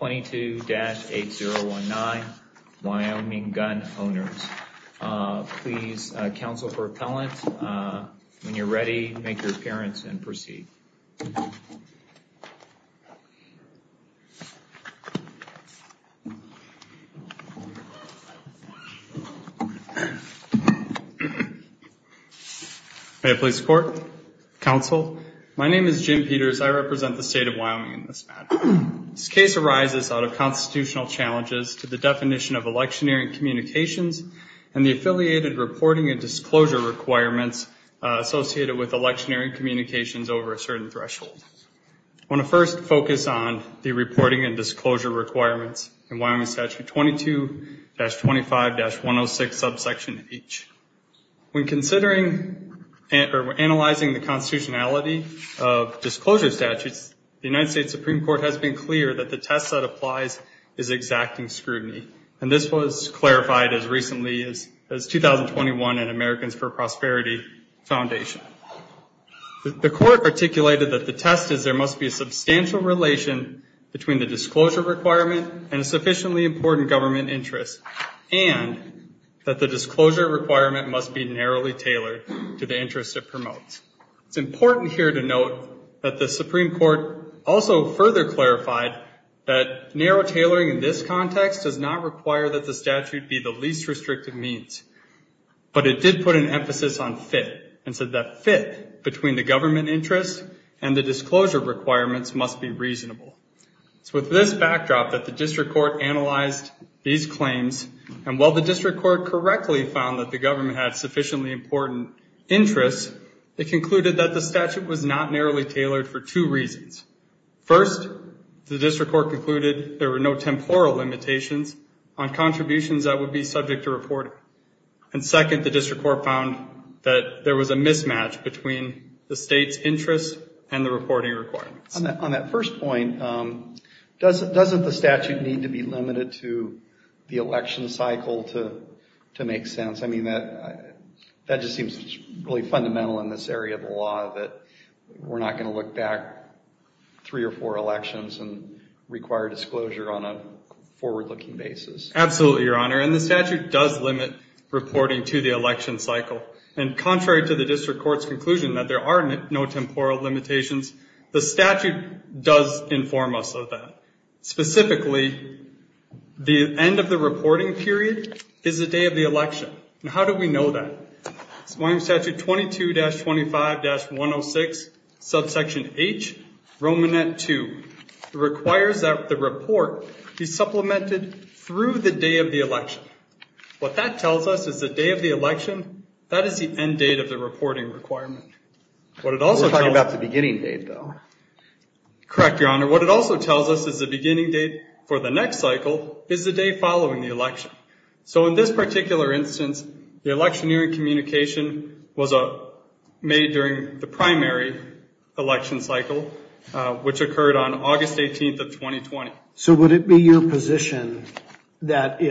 22-8019 Wyoming Gun Owners. Please counsel for appellant. When you're ready, make your appearance and proceed. May I please report? Counsel, my name is Jim Peters. I represent the state of Wyoming. This case arises out of constitutional challenges to the definition of electioneering communications and the affiliated reporting and disclosure requirements associated with electioneering communications over a certain threshold. I want to first focus on the reporting and disclosure requirements in Wyoming Statute 22-25-106 subsection H. When considering or test that applies is exacting scrutiny. And this was clarified as recently as 2021 in Americans for Prosperity Foundation. The court articulated that the test is there must be a substantial relation between the disclosure requirement and a sufficiently important government interest and that the disclosure requirement must be narrowly tailored to the interest it promotes. It's clear that narrow tailoring in this context does not require that the statute be the least restrictive means. But it did put an emphasis on fit and said that fit between the government interest and the disclosure requirements must be reasonable. So with this backdrop that the district court analyzed these claims and while the district court correctly found that the government had included there were no temporal limitations on contributions that would be subject to reporting. And second, the district court found that there was a mismatch between the state's interest and the reporting requirements. On that first point, doesn't the statute need to be limited to the election cycle to make sense? I mean, that just seems really fundamental in this area of the law that we're not going to look back three or four elections and require disclosure on a forward-looking basis. Absolutely, Your Honor. And the statute does limit reporting to the election cycle. And contrary to the district court's conclusion that there are no temporal limitations, the statute does inform us of that. Specifically, the end of the reporting period is the day of the election. And how do we know that? This is Wyoming Statute 22-25-106, subsection H, Romanet 2. It requires that the report be supplemented through the day of the election. What that tells us is the day of the election, that is the end date of the reporting requirement. We're talking about the beginning date, though. Correct, Your Honor. What it also tells us is the beginning date for the next cycle is the day following the election. So in this particular instance, the electioneering communication was made during the primary election cycle, which occurred on August 18th of 2020. So would it be your position that if they were to file, you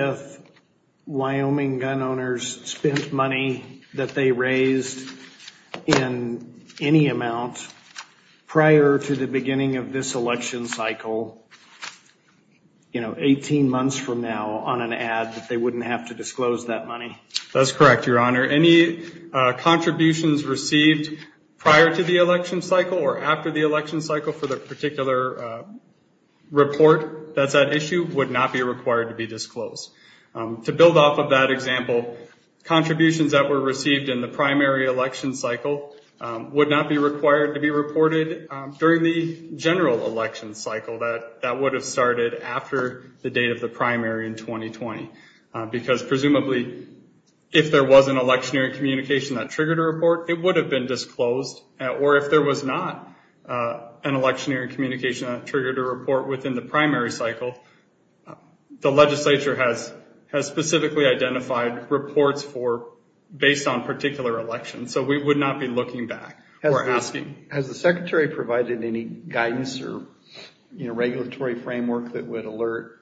know, 18 months from now on an ad, that they wouldn't have to disclose that money? That's correct, Your Honor. Any contributions received prior to the election cycle or after the election cycle for the particular report that's at issue would not be required to be disclosed. To build on that, that would have started after the date of the primary in 2020. Because presumably if there was an electioneering communication that triggered a report, it would have been disclosed. Or if there was not an electioneering communication that triggered a report within the primary cycle, the legislature has specifically identified reports based on particular elections. So we would not be looking back or asking. Has the Secretary provided any guidance or regulatory framework that would alert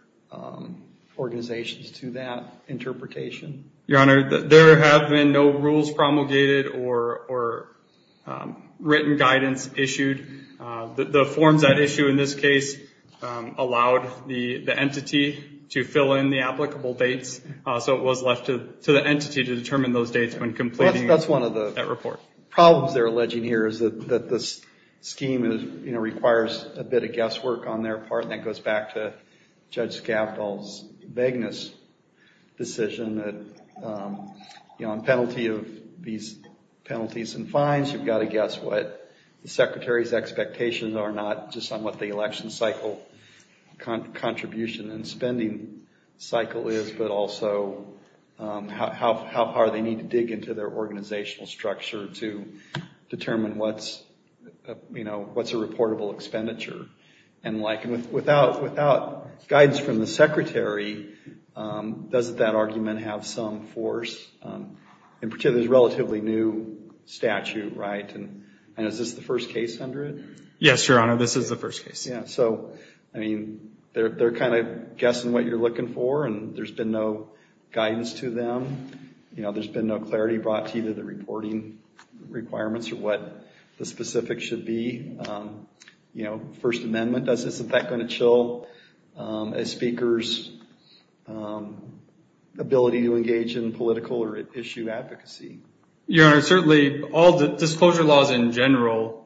organizations to that interpretation? Your Honor, there have been no rules promulgated or written guidance issued. The forms at issue in this case allowed the entity to fill in the applicable dates. So it was left to the entity to determine those dates when completing that report. That's one of the problems they're alleging here is that this scheme requires a bit of guesswork on their part, and that goes back to Judge Skavdal's vagueness decision that on penalty of these penalties and fines, you've got to guess what the Secretary's expectations are, not just on what the election cycle contribution and spending cycle is, but also how far they need to dig into their organizational structure to determine what's, you know, what's a reportable expenditure. And like, without guidance from the Secretary, doesn't that argument have some force? In particular, this relatively new statute, right? And is this the first case under it? Yes, Your Honor, this is the first case. So, I mean, they're kind of guessing what you're looking for, and there's been no guidance to them. You know, there's been no clarity brought to either the reporting requirements or what the specifics should be. You know, First Amendment, is this in fact going to chill a speaker's ability to engage in political or issue advocacy? Your Honor, certainly all the disclosure laws in general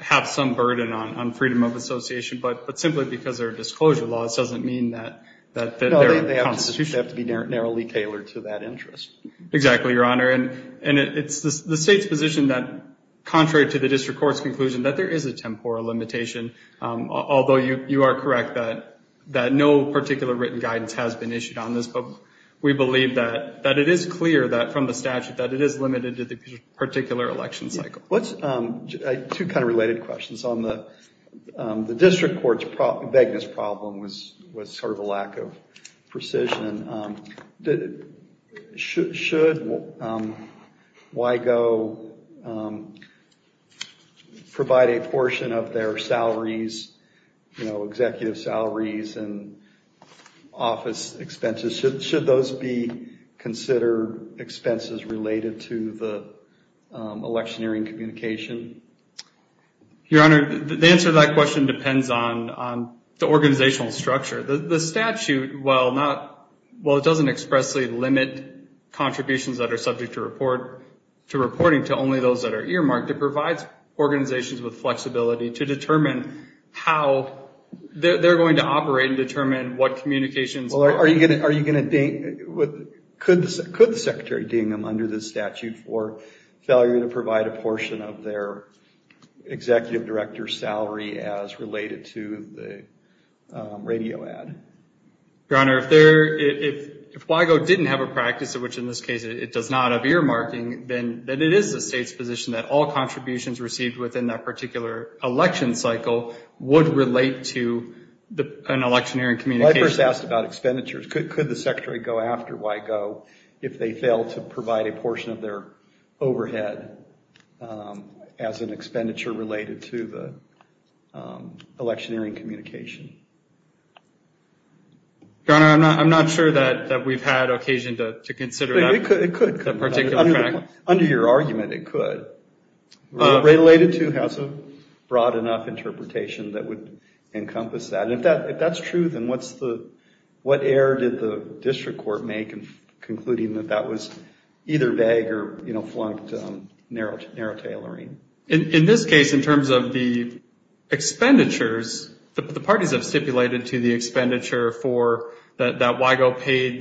have some burden on freedom of association, but simply because they're disclosure laws doesn't mean that they're constitutional. They have to be narrowly tailored to that interest. Exactly, Your Honor. And it's the State's position that, contrary to the District Court's conclusion, that there is a temporal limitation, although you are correct that no particular written guidance has been issued on this. But we believe that it is clear that from the Your Honor, the answer to that question depends on the organizational structure. The statute, while not well, it doesn't expressly limit contributions that are subject to reporting to only those that are earmarked, it provides organizations with flexibility to determine how they're going to operate and determine what communications are. Well, are you going to, could the Secretary ding them under the statute for failure to provide a portion of their Executive Director's salary as related to the radio ad? Your Honor, if they're, if WIGO didn't have a practice, which in this case it does not have earmarking, then it is the State's position that all contributions received within that particular election cycle would relate to an electioneering communication. I first asked about expenditures. Could the Secretary go after WIGO if they fail to provide a portion of their overhead as an expenditure related to the electioneering communication? Your Honor, I'm not sure that we've had occasion to consider that particular fact. It could. Under your truth, and what's the, what error did the District Court make in concluding that that was either vague or, you know, flunked narrow tailoring? In this case, in terms of the expenditures, the parties have stipulated to the expenditure for, that WIGO paid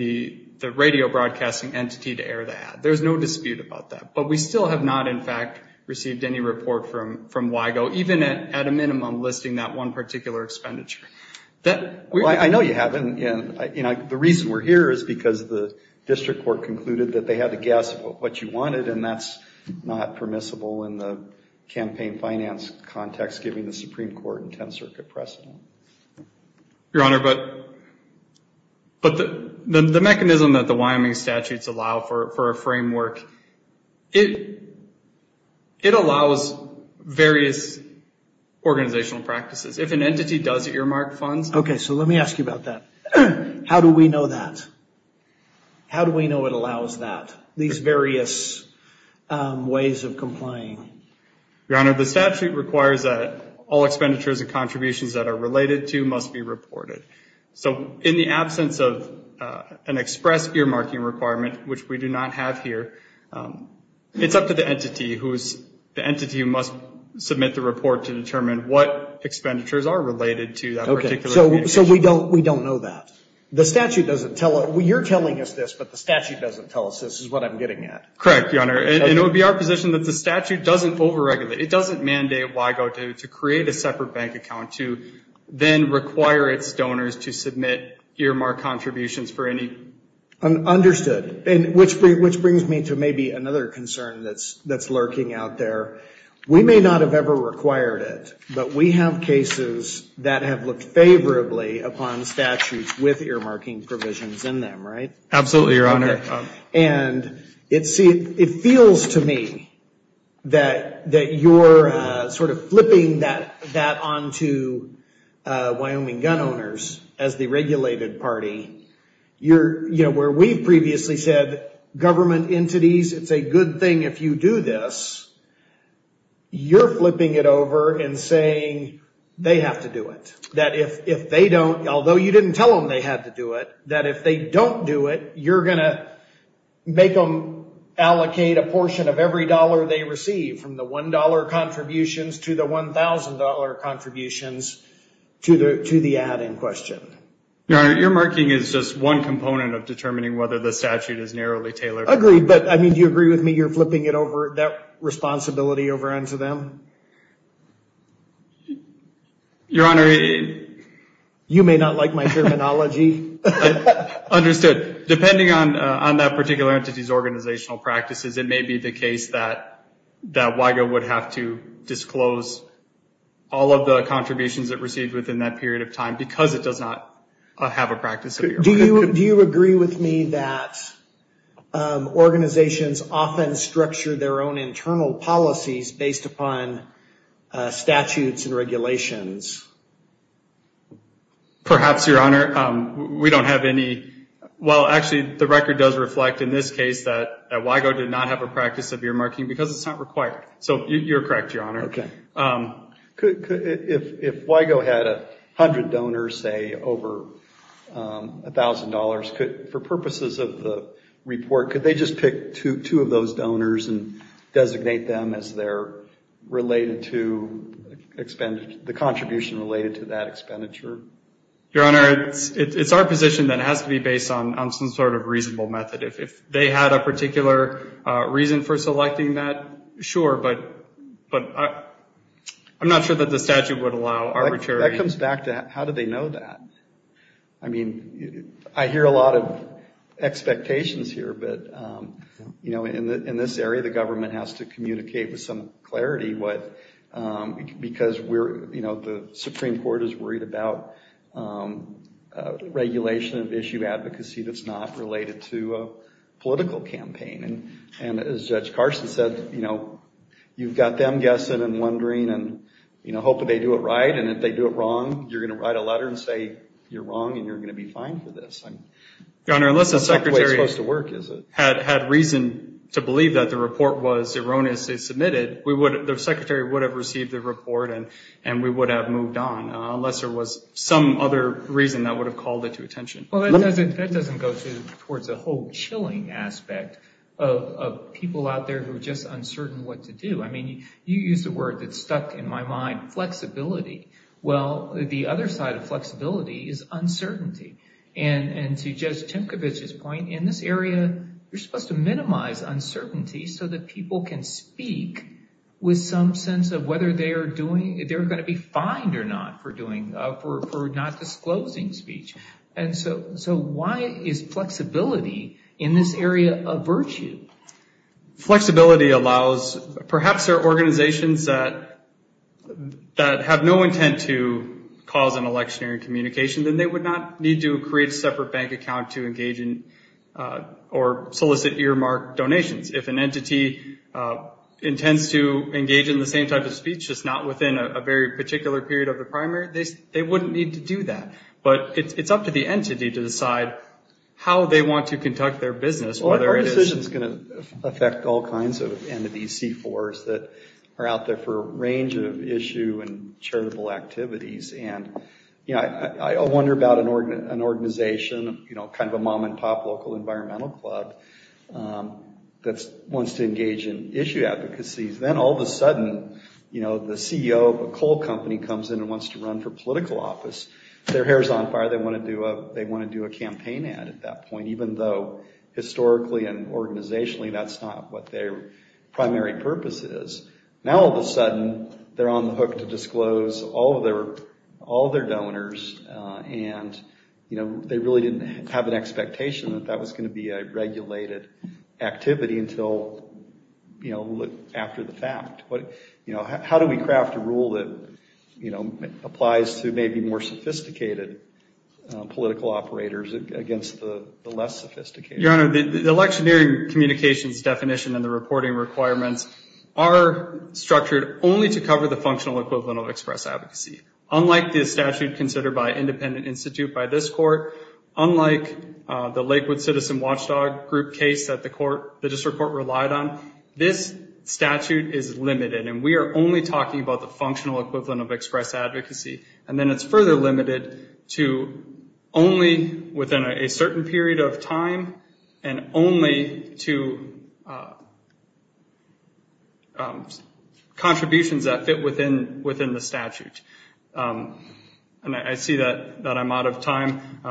the radio broadcasting entity to air the ad. There's no dispute about that, but we still have not, in fact, received any report from WIGO, even at a minimum, listing that one particular expenditure. I know you haven't, and the reason we're here is because the District Court concluded that they had to guess what you wanted, and that's not permissible in the campaign finance context, given the Supreme Court and It, it allows various organizational practices. If an entity does earmark funds. Okay, so let me ask you about that. How do we know that? How do we know it allows that, these various ways of complying? Your Honor, the statute requires that all expenditures and contributions that are related to must be reported. So in the absence of an express earmarking requirement, which we do not have here, it's up to the entity who's, the entity who must submit the report to determine what expenditures are related to that particular. Okay, so, so we don't, we don't know that. The statute doesn't tell us, well, you're telling us this, but the statute doesn't tell us this is what I'm getting at. Correct, Your Honor, and it would be our position that the statute doesn't over-regulate. It doesn't mandate WIGO to create a separate bank account to then require its contributions for any. Understood, and which brings me to maybe another concern that's, that's lurking out there. We may not have ever required it, but we have cases that have looked favorably upon statutes with earmarking provisions in them, right? Absolutely, Your Honor. And it seems, it feels to me that, that you're sort of you're, you know, where we've previously said government entities, it's a good thing if you do this, you're flipping it over and saying they have to do it. That if, if they don't, although you didn't tell them they had to do it, that if they don't do it, you're going to make them allocate a portion of every dollar they receive from the $1 contributions to the $1,000 contributions to the, to the ad in question. Your Honor, earmarking is just one component of determining whether the statute is narrowly tailored. Agreed, but I mean, do you agree with me you're flipping it over, that responsibility over onto them? Your Honor, you may not like my terminology. Understood. Depending on, on that particular entity's organizational practices, it may be the case that, that WIGO would have to disclose all of the contributions it received within that period of time because it does not have a practice of earmarking. Do you, do you agree with me that organizations often structure their own internal policies based upon statutes and regulations? Perhaps, Your Honor. We don't have any, well, actually the record does reflect in this case that WIGO did not have a practice of earmarking because it's not required. So you're correct, Your Honor. Okay. If, if WIGO had a hundred donors, say over $1,000, could, for purposes of the report, could they just pick two, two of those donors and designate them as they're related to expenditure, the contribution related to that expenditure? Your Honor, it's, it's our position that it has to be based on, on some sort of reasonable method. If, if they had a I mean, I hear a lot of expectations here, but, you know, in this area, the government has to communicate with some clarity what, because we're, you know, the Supreme Court is worried about regulation of issue advocacy that's not related to a political campaign. And, and as Judge Carson said, you know, you've got them guessing and wondering and, you know, hoping they do it right. And if they do it wrong, you're going to write a letter and say, you're wrong and you're going to be fine for this. Your Honor, unless the secretary had reason to believe that the report was erroneously submitted, we would, the secretary would have received the report and, and we would have moved on, unless there was some other reason that would have called it to attention. Well, that doesn't, that doesn't go to, towards a whole chilling aspect of, of people out there who are just uncertain what to do. I mean, you used the word that stuck in my mind, flexibility. Well, the other side of flexibility is uncertainty. And, and to Judge Timcovich's point, in this area, you're supposed to minimize uncertainty so that people can speak with some confidence that they're doing, they're going to be fined or not for doing, for, for not disclosing speech. And so, so why is flexibility in this area a virtue? Flexibility allows, perhaps there are organizations that, that have no intent to cause an electionary communication, then they would not need to do that. But it's, it's up to the entity to decide how they want to conduct their business, whether it is... Well, our decision's going to affect all kinds of entities, C4s, that are out there for a range of issue and charitable activities. And, you know, I, I wonder about an organization, you know, kind of a mom and pop, you know, a small club that's, wants to engage in issue advocacies. Then all of a sudden, you know, the CEO of a coal company comes in and wants to run for political office, their hair's on fire, they want to do a, they want to do a campaign ad at that point, even though historically and organizationally that's not what their primary purpose is. Now all of a sudden, they're on the hook to disclose all of their, all of their donors and, you know, they really didn't have an expectation that that was going to be a regulated activity until, you know, after the fact. But, you know, how do we craft a rule that, you know, applies to maybe more sophisticated political operators against the less sophisticated? Your Honor, the, the electionary communications definition and the reporting requirements are structured only to cover the functional equivalent of express advocacy. Unlike the statute considered by Independent Institute by this court, unlike the Lakewood Citizen Watchdog Group case that the court, the district court relied on, this statute is limited. And we are only talking about the functional equivalent of express advocacy. And then it's further limited to only within a certain period of time and only to contributions that fit within, within the statute. And I see that, that I'm out of time,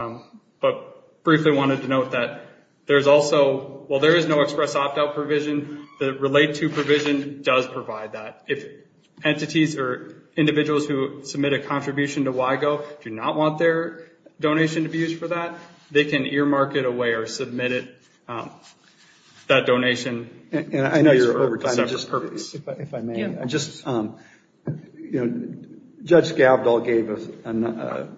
but briefly wanted to note that there's also, while there is no express opt-out provision, the relate to provision does provide that. If entities or individuals who submit a contribution to WIGO do not want their donation to be used for that, they can earmark it away or submit it, that is the case. Judge Skabdal gave us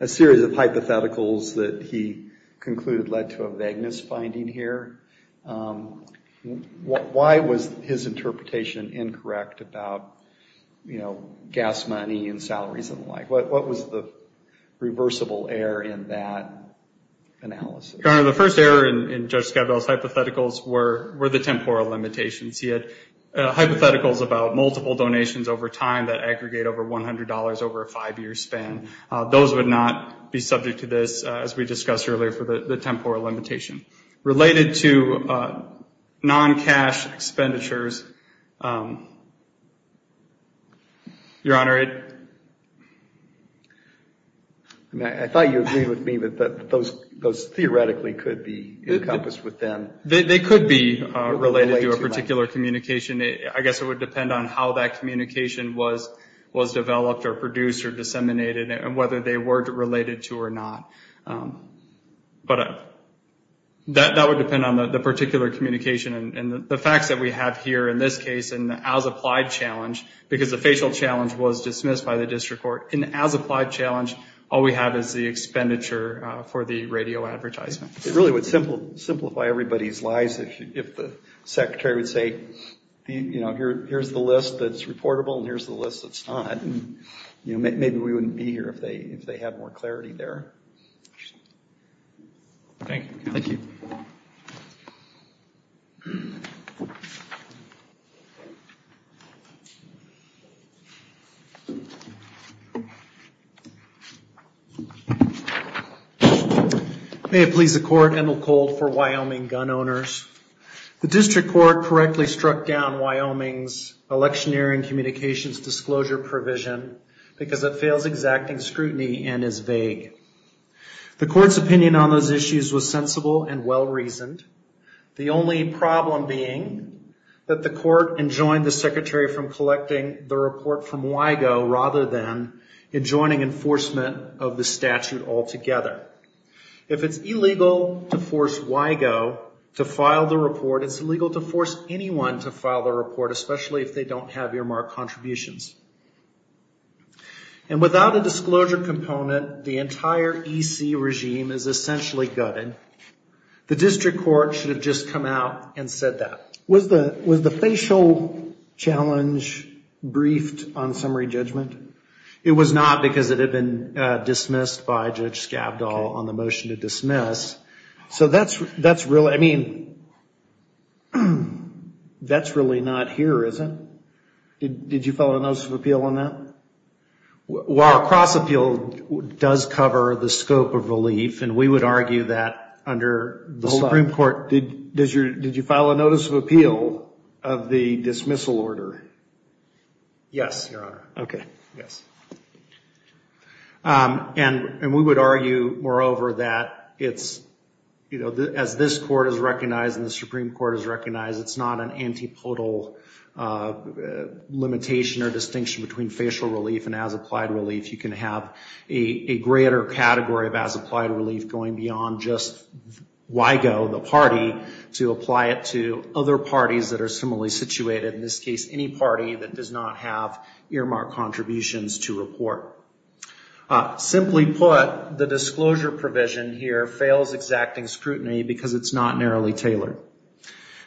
a series of hypotheticals that he concluded led to a vagueness finding here. Why was his interpretation incorrect about, you know, gas money and salaries and the like? What, what was the reversible error in that analysis? Your Honor, the first error in Judge Skabdal's hypotheticals were, were the temporal limitations. He had hypotheticals about multiple donations over time that aggregate over $100 over a five-year span. Those would not be subject to this, as we discussed earlier, for the temporal limitation. Related to non-cash expenditures, Your Honor, it... I thought you agreed with me that those, those theoretically could be encompassed with them. They could be related to a particular communication. I guess it would depend on how that communication was, was developed or produced or disseminated and whether they were related to or not. But that, that would depend on the particular communication and the facts that we have here, in this case, in the as-applied challenge, because the facial challenge was dismissed by the district court, in the as-applied challenge, all we have is the list of everybody's lies. If the secretary would say, you know, here's the list that's reportable and here's the list that's not, you know, maybe we wouldn't be here if they, if they had more clarity there. Thank you. Thank you. Thank you. May it please the court, Endell Cold for Wyoming Gun Owners. The district court correctly struck down Wyoming's electioneering communications disclosure provision because it fails exacting scrutiny and is vague. The court's opinion on those issues was sensible and well-reasoned. The only problem being that the court enjoined the secretary from collecting the report from WIGO rather than enjoining enforcement of the statute altogether. If it's illegal to force WIGO to file the report, it's illegal to force anyone to file the report, especially if they don't have earmarked contributions. And without a disclosure component, the entire EC regime is essentially gutted. The district court should have just come out and said that. Was the facial challenge briefed on summary judgment? It was not because it had been dismissed by Judge Skabdal on the motion to dismiss. So that's really, I mean, that's really not here, is it? Did you file a notice of appeal on that? Well, a cross appeal does cover the dismissal. Did you file a notice of appeal of the dismissal order? Yes, Your Honor. Okay. Yes. And we would argue, moreover, that it's, you know, as this court has recognized and the Supreme Court has recognized, it's not an antipodal limitation or distinction between facial relief and as-applied relief. You can have a greater category of as-applied relief going beyond just WIGO, the party, to apply to the district court. And the district court can apply it to other parties that are similarly situated. In this case, any party that does not have earmarked contributions to report. Simply put, the disclosure provision here fails exacting scrutiny because it's not narrowly tailored.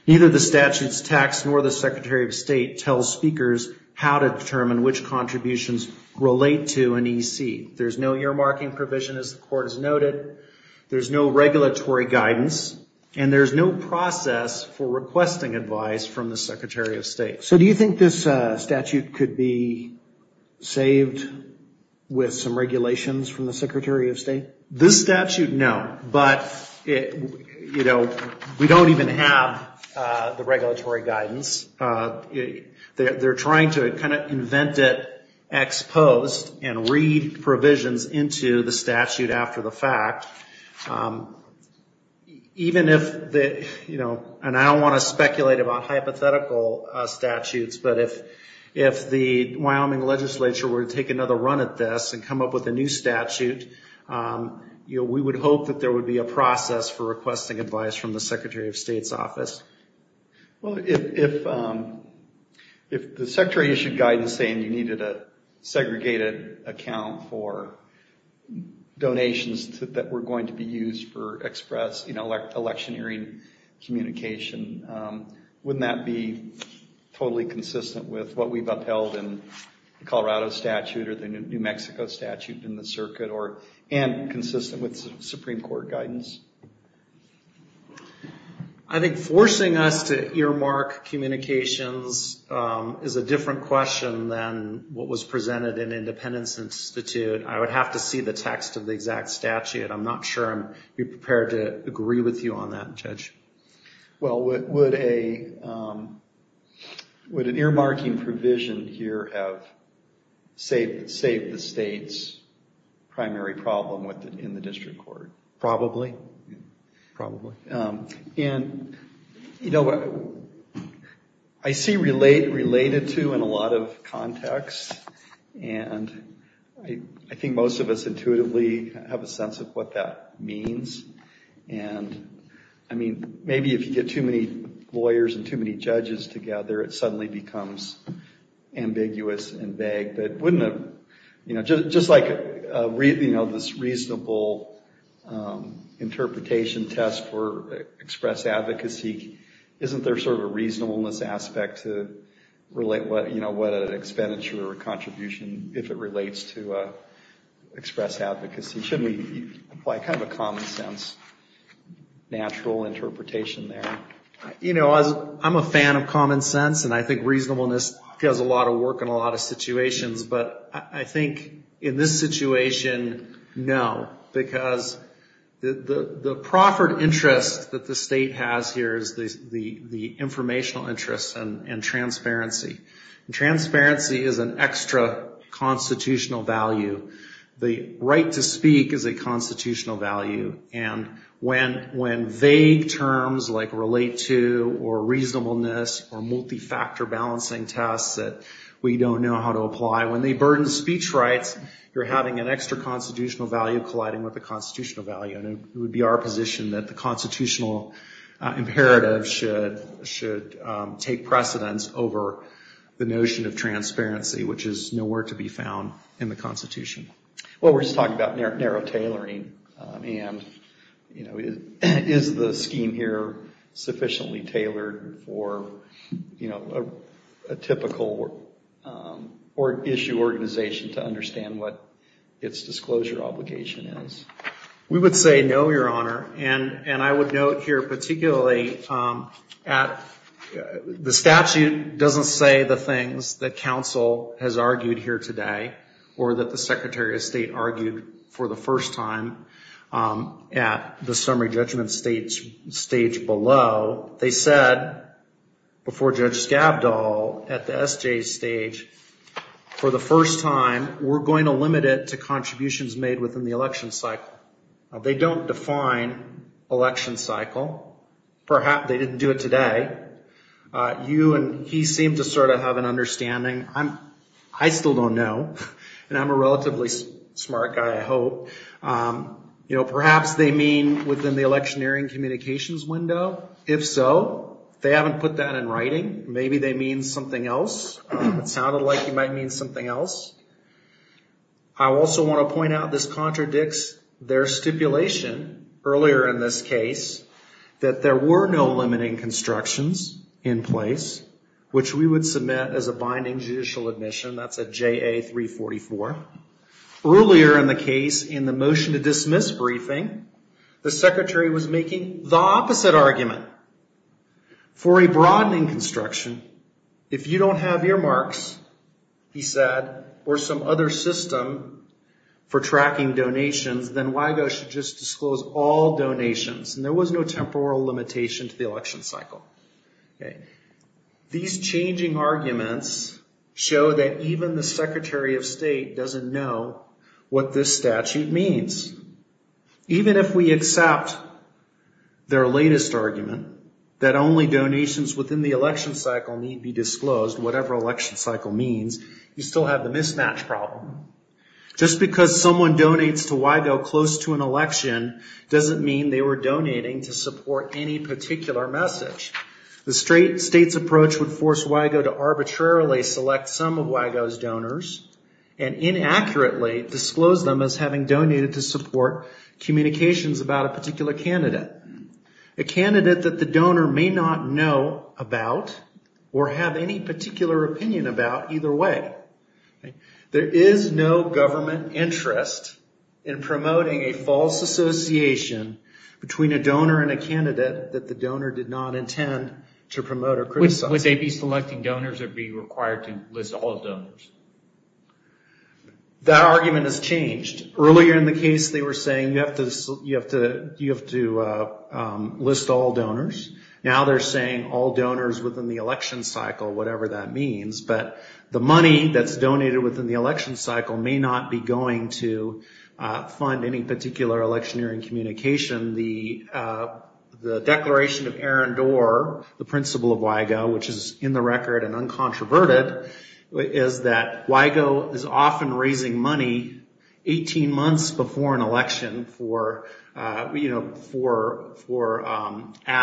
Neither the statute's text nor the Secretary of State tells speakers how to determine which contributions relate to an EC. There's no earmarking provision, as the court has for requesting advice from the Secretary of State. So do you think this statute could be saved with some regulations from the Secretary of State? This statute, no. But, you know, we don't even have the regulatory guidance. They're trying to kind of invent it ex post and read provisions into the statute after the fact. Even if the, you know, if the statute were to say, you know, we're going to have a new statute, and I don't want to speculate about hypothetical statutes, but if the Wyoming legislature were to take another run at this and come up with a new statute, you know, we would hope that there would be a process for requesting advice from the Secretary of State's office. Well, if the Secretary issued guidance saying you needed a segregated account for donations that were going to be used for express, you know, electioneering communication, wouldn't that be totally consistent with what we've upheld in the Colorado statute or the New Mexico statute in the circuit, and consistent with Supreme Court guidance? I think forcing us to earmark communications is a different question than what was presented in Independence Institute. I would have to see the text of the exact statute. I'm not sure I'm prepared to agree with you on that, Judge. Well, would an earmarking provision here have saved the state's primary problem in the district court? Probably. Probably. And, you know, I see related to in a lot of contexts, and I think most of us intuitively have a sense of what that means. And, I mean, maybe if you get too many lawyers and too many judges together, it suddenly becomes ambiguous and vague. But wouldn't a, you know, just like, you know, this reasonable interpretation test for express advocacy, isn't there sort of a reasonableness aspect to relate what, you know, what an expenditure or contribution, if it relates to express advocacy? Shouldn't we apply kind of a common sense, natural interpretation there? You know, I'm a fan of common sense, and I think reasonableness does a lot of work in a lot of situations, but I think in this situation, no. Because the proffered interest that the state has here is the informational interest and transparency. And transparency is an extra constitutional value. The right to speak is a constitutional value. And when vague terms like relate to or reasonableness or multi-factor balancing tests that we don't know how to apply, when they burden speech rights, you're having an extra constitutional value colliding with the constitutional value. And it would be our position that the constitutional imperative should take precedence over the notion of transparency, which is nowhere to be seen. And, you know, is the scheme here sufficiently tailored for, you know, a typical issue organization to understand what its disclosure obligation is? We would say no, Your Honor. And I would note here particularly at the statute doesn't say the things that the Secretary of State argued for the first time at the summary judgment stage below. They said before Judge Skabdal at the S.J. stage, for the first time, we're going to limit it to contributions made within the election cycle. They don't define election cycle. Perhaps they didn't do it today. You and he seem to sort of have an understanding. I still don't know, and I'm a relative of smart guy, I hope. You know, perhaps they mean within the electioneering communications window. If so, they haven't put that in writing. Maybe they mean something else. It sounded like he might mean something else. I also want to point out this contradicts their stipulation earlier in this case that there were no limiting constructions in place, which we would submit as a binding judicial admission. That's a J.A. 344. Earlier in the case, in the motion to dismiss briefing, the Secretary was making the opposite argument. For a broadening construction, if you don't have earmarks, he said, or some other system for tracking donations, then WIGO should just disclose all donations. And there was no temporal limitation to the election cycle. These changing arguments show that even the Secretary of State doesn't know what this statute means. Even if we accept their latest argument, that only donations within the election cycle need be disclosed, whatever election cycle means, you still have the mismatch problem. Just because someone donates to WIGO close to an election doesn't mean they were donating to support any particular message. The straight state's approach would force WIGO to arbitrarily select some of WIGO's donors and inaccurately disclose them as having donated to support communications about a particular candidate, a candidate that the donor may not know about or have any particular opinion about either way. There is no government interest in promoting a false association between a donor and a candidate. Would they be selecting donors or be required to list all donors? That argument has changed. Earlier in the case, they were saying you have to list all donors. Now they're saying all donors within the election cycle, whatever that means. But the money that's donated within the election cycle may not be going to fund any particular electioneering communication. The declaration of Aaron Doerr, the principal of WIGO, is not going to fund any electioneering communication. The other thing that's true about the principle of WIGO, which is in the record and uncontroverted, is that WIGO is often raising money 18 months before an election for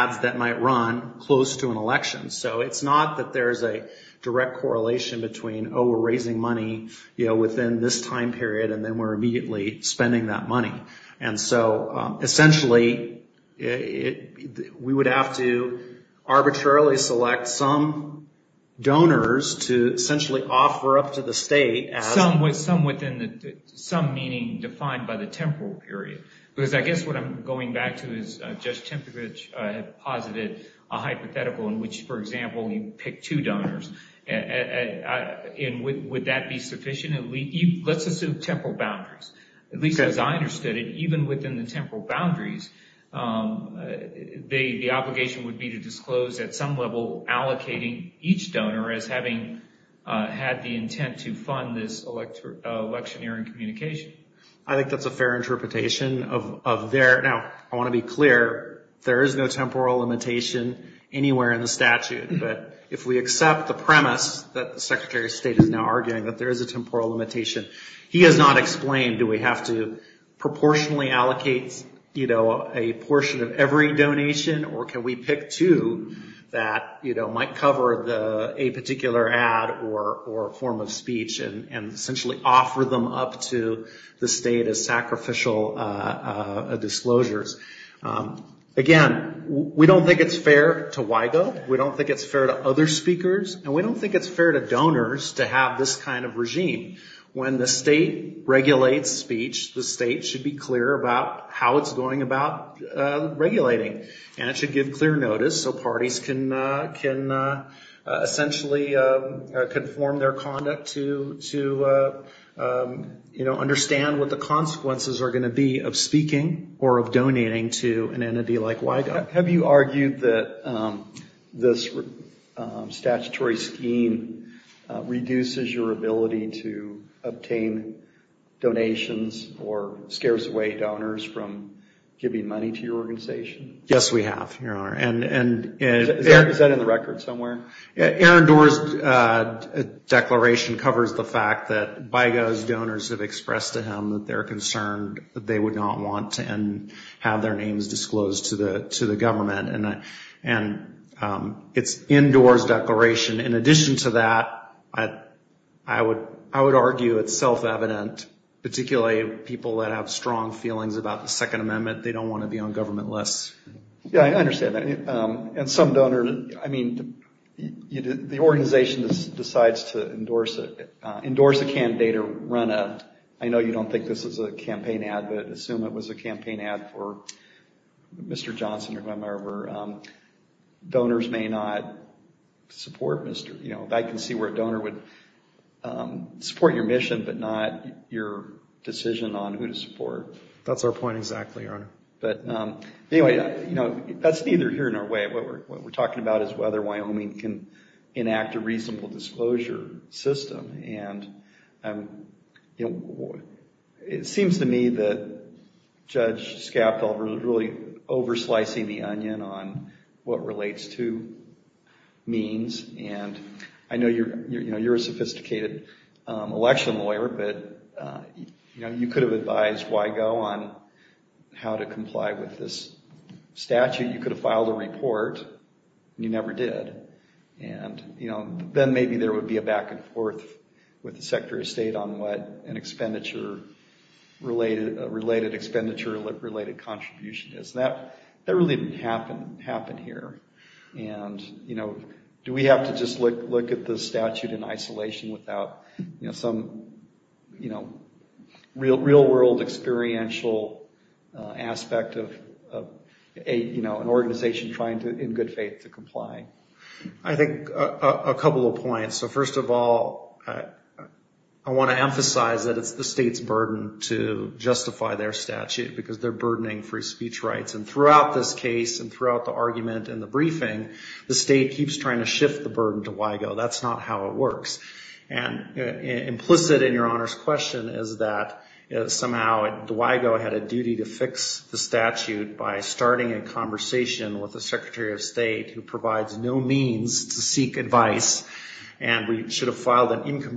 ads that might run close to an election. So it's not that there's a direct correlation between, oh, we're raising money within this time period and then we're immediately spending that money. And so, essentially, we would have to arbitrarily select some donors to essentially offer up to the state as... Some meaning defined by the temporal period. Because I guess what I'm going back to is Judge Tempevich posited a hypothetical in which, for example, you pick two donors. Would that be sufficient? Let's assume temporal boundaries. At least the designers did it. Even within the temporal boundaries, the obligation would be to disclose at some level allocating each donor as having had the intent to fund this electioneering communication. I think that's a fair interpretation of their... Now, I want to be clear. There is no temporal limitation anywhere in the statute. But if we accept the premise that the Secretary of State is now arguing that there is a temporal limitation, he has not explained do we have to proportionally allocate a portion of every donation or can we pick two that might cover a particular ad or form of speech and essentially offer them up to the state as sacrificial disclosures. Again, we don't think it's fair to WIGO. We don't think it's fair to other speakers. And we don't think it's fair to donors to have this kind of regime. When the state regulates speech, the state should be clear about how it's going about regulating. And it should give clear notice so parties can essentially conform their conduct to, you know, understand what the consequences are going to be of speaking or of donating to an entity like WIGO. Have you argued that this statutory scheme reduces your ability to obtain donations or scares away donors from giving money to your organization? Yes, we have. Is that in the record somewhere? Aaron Doar's declaration covers the fact that WIGO's donors have to give money to the government. And it's in Doar's declaration. In addition to that, I would argue it's self-evident, particularly people that have strong feelings about the Second Amendment, they don't want to be on government lists. Yeah, I understand that. And some donors, I mean, the organization decides to endorse a candidate or run a, I know you don't think this is a campaign ad for Mr. Johnson or whomever. Donors may not support Mr., you know, I can see where a donor would support your mission, but not your decision on who to support. That's our point exactly, Your Honor. But anyway, you know, that's neither here nor away. What we're talking about is whether Wyoming can enact a reasonable disclosure system. And, you know, it seems to me that just Judge Schapel was really over slicing the onion on what relates to means. And I know you're a sophisticated election lawyer, but, you know, you could have advised WIGO on how to comply with this statute. You could have filed a report, and you never did. And, you know, then maybe there would be a back and forth with the Secretary of State on what an expenditure related, a related expenditure related contribution is. That really didn't happen here. And, you know, do we have to just look at the statute in isolation without, you know, some, you know, real world experiential aspect of, you know, an organization trying to, in good faith, to comply? I think a couple of points. So first of all, I want to emphasize that it's the state's burden to justify their statute, because it's their burdening free speech rights. And throughout this case and throughout the argument and the briefing, the state keeps trying to shift the burden to WIGO. That's not how it works. And implicit in your Honor's question is that somehow WIGO had a duty to fix the statute by starting a conversation with the Secretary of State who provides no means to seek advice, and we should have filed an amendment.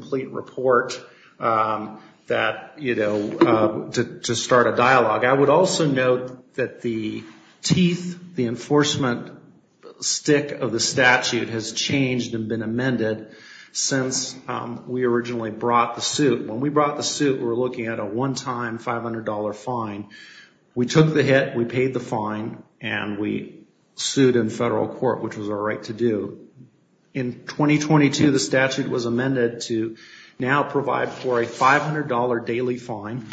I would also note that the teeth, the enforcement stick of the statute has changed and been amended since we originally brought the suit. When we brought the suit, we were looking at a one-time $500 fine. We took the hit, we paid the fine, and we sued in federal court, which was our right to do. In 2022, the statute was amended to now provide for a $500 daily fine,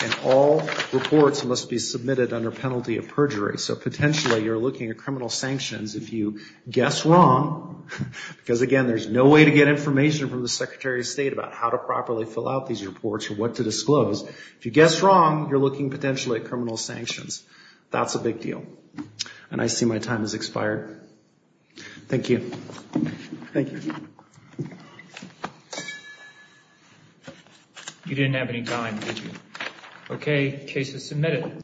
and all reports must be submitted under penalty of perjury. So potentially you're looking at criminal sanctions if you guess wrong, because again, there's no way to get information from the Secretary of State about how to properly fill out these reports or what to disclose. If you guess wrong, you're looking potentially at criminal sanctions. That's a big deal. And I see my time has expired. Thank you. Thank you. Thank you. You didn't have any time, did you? Okay. Case is submitted.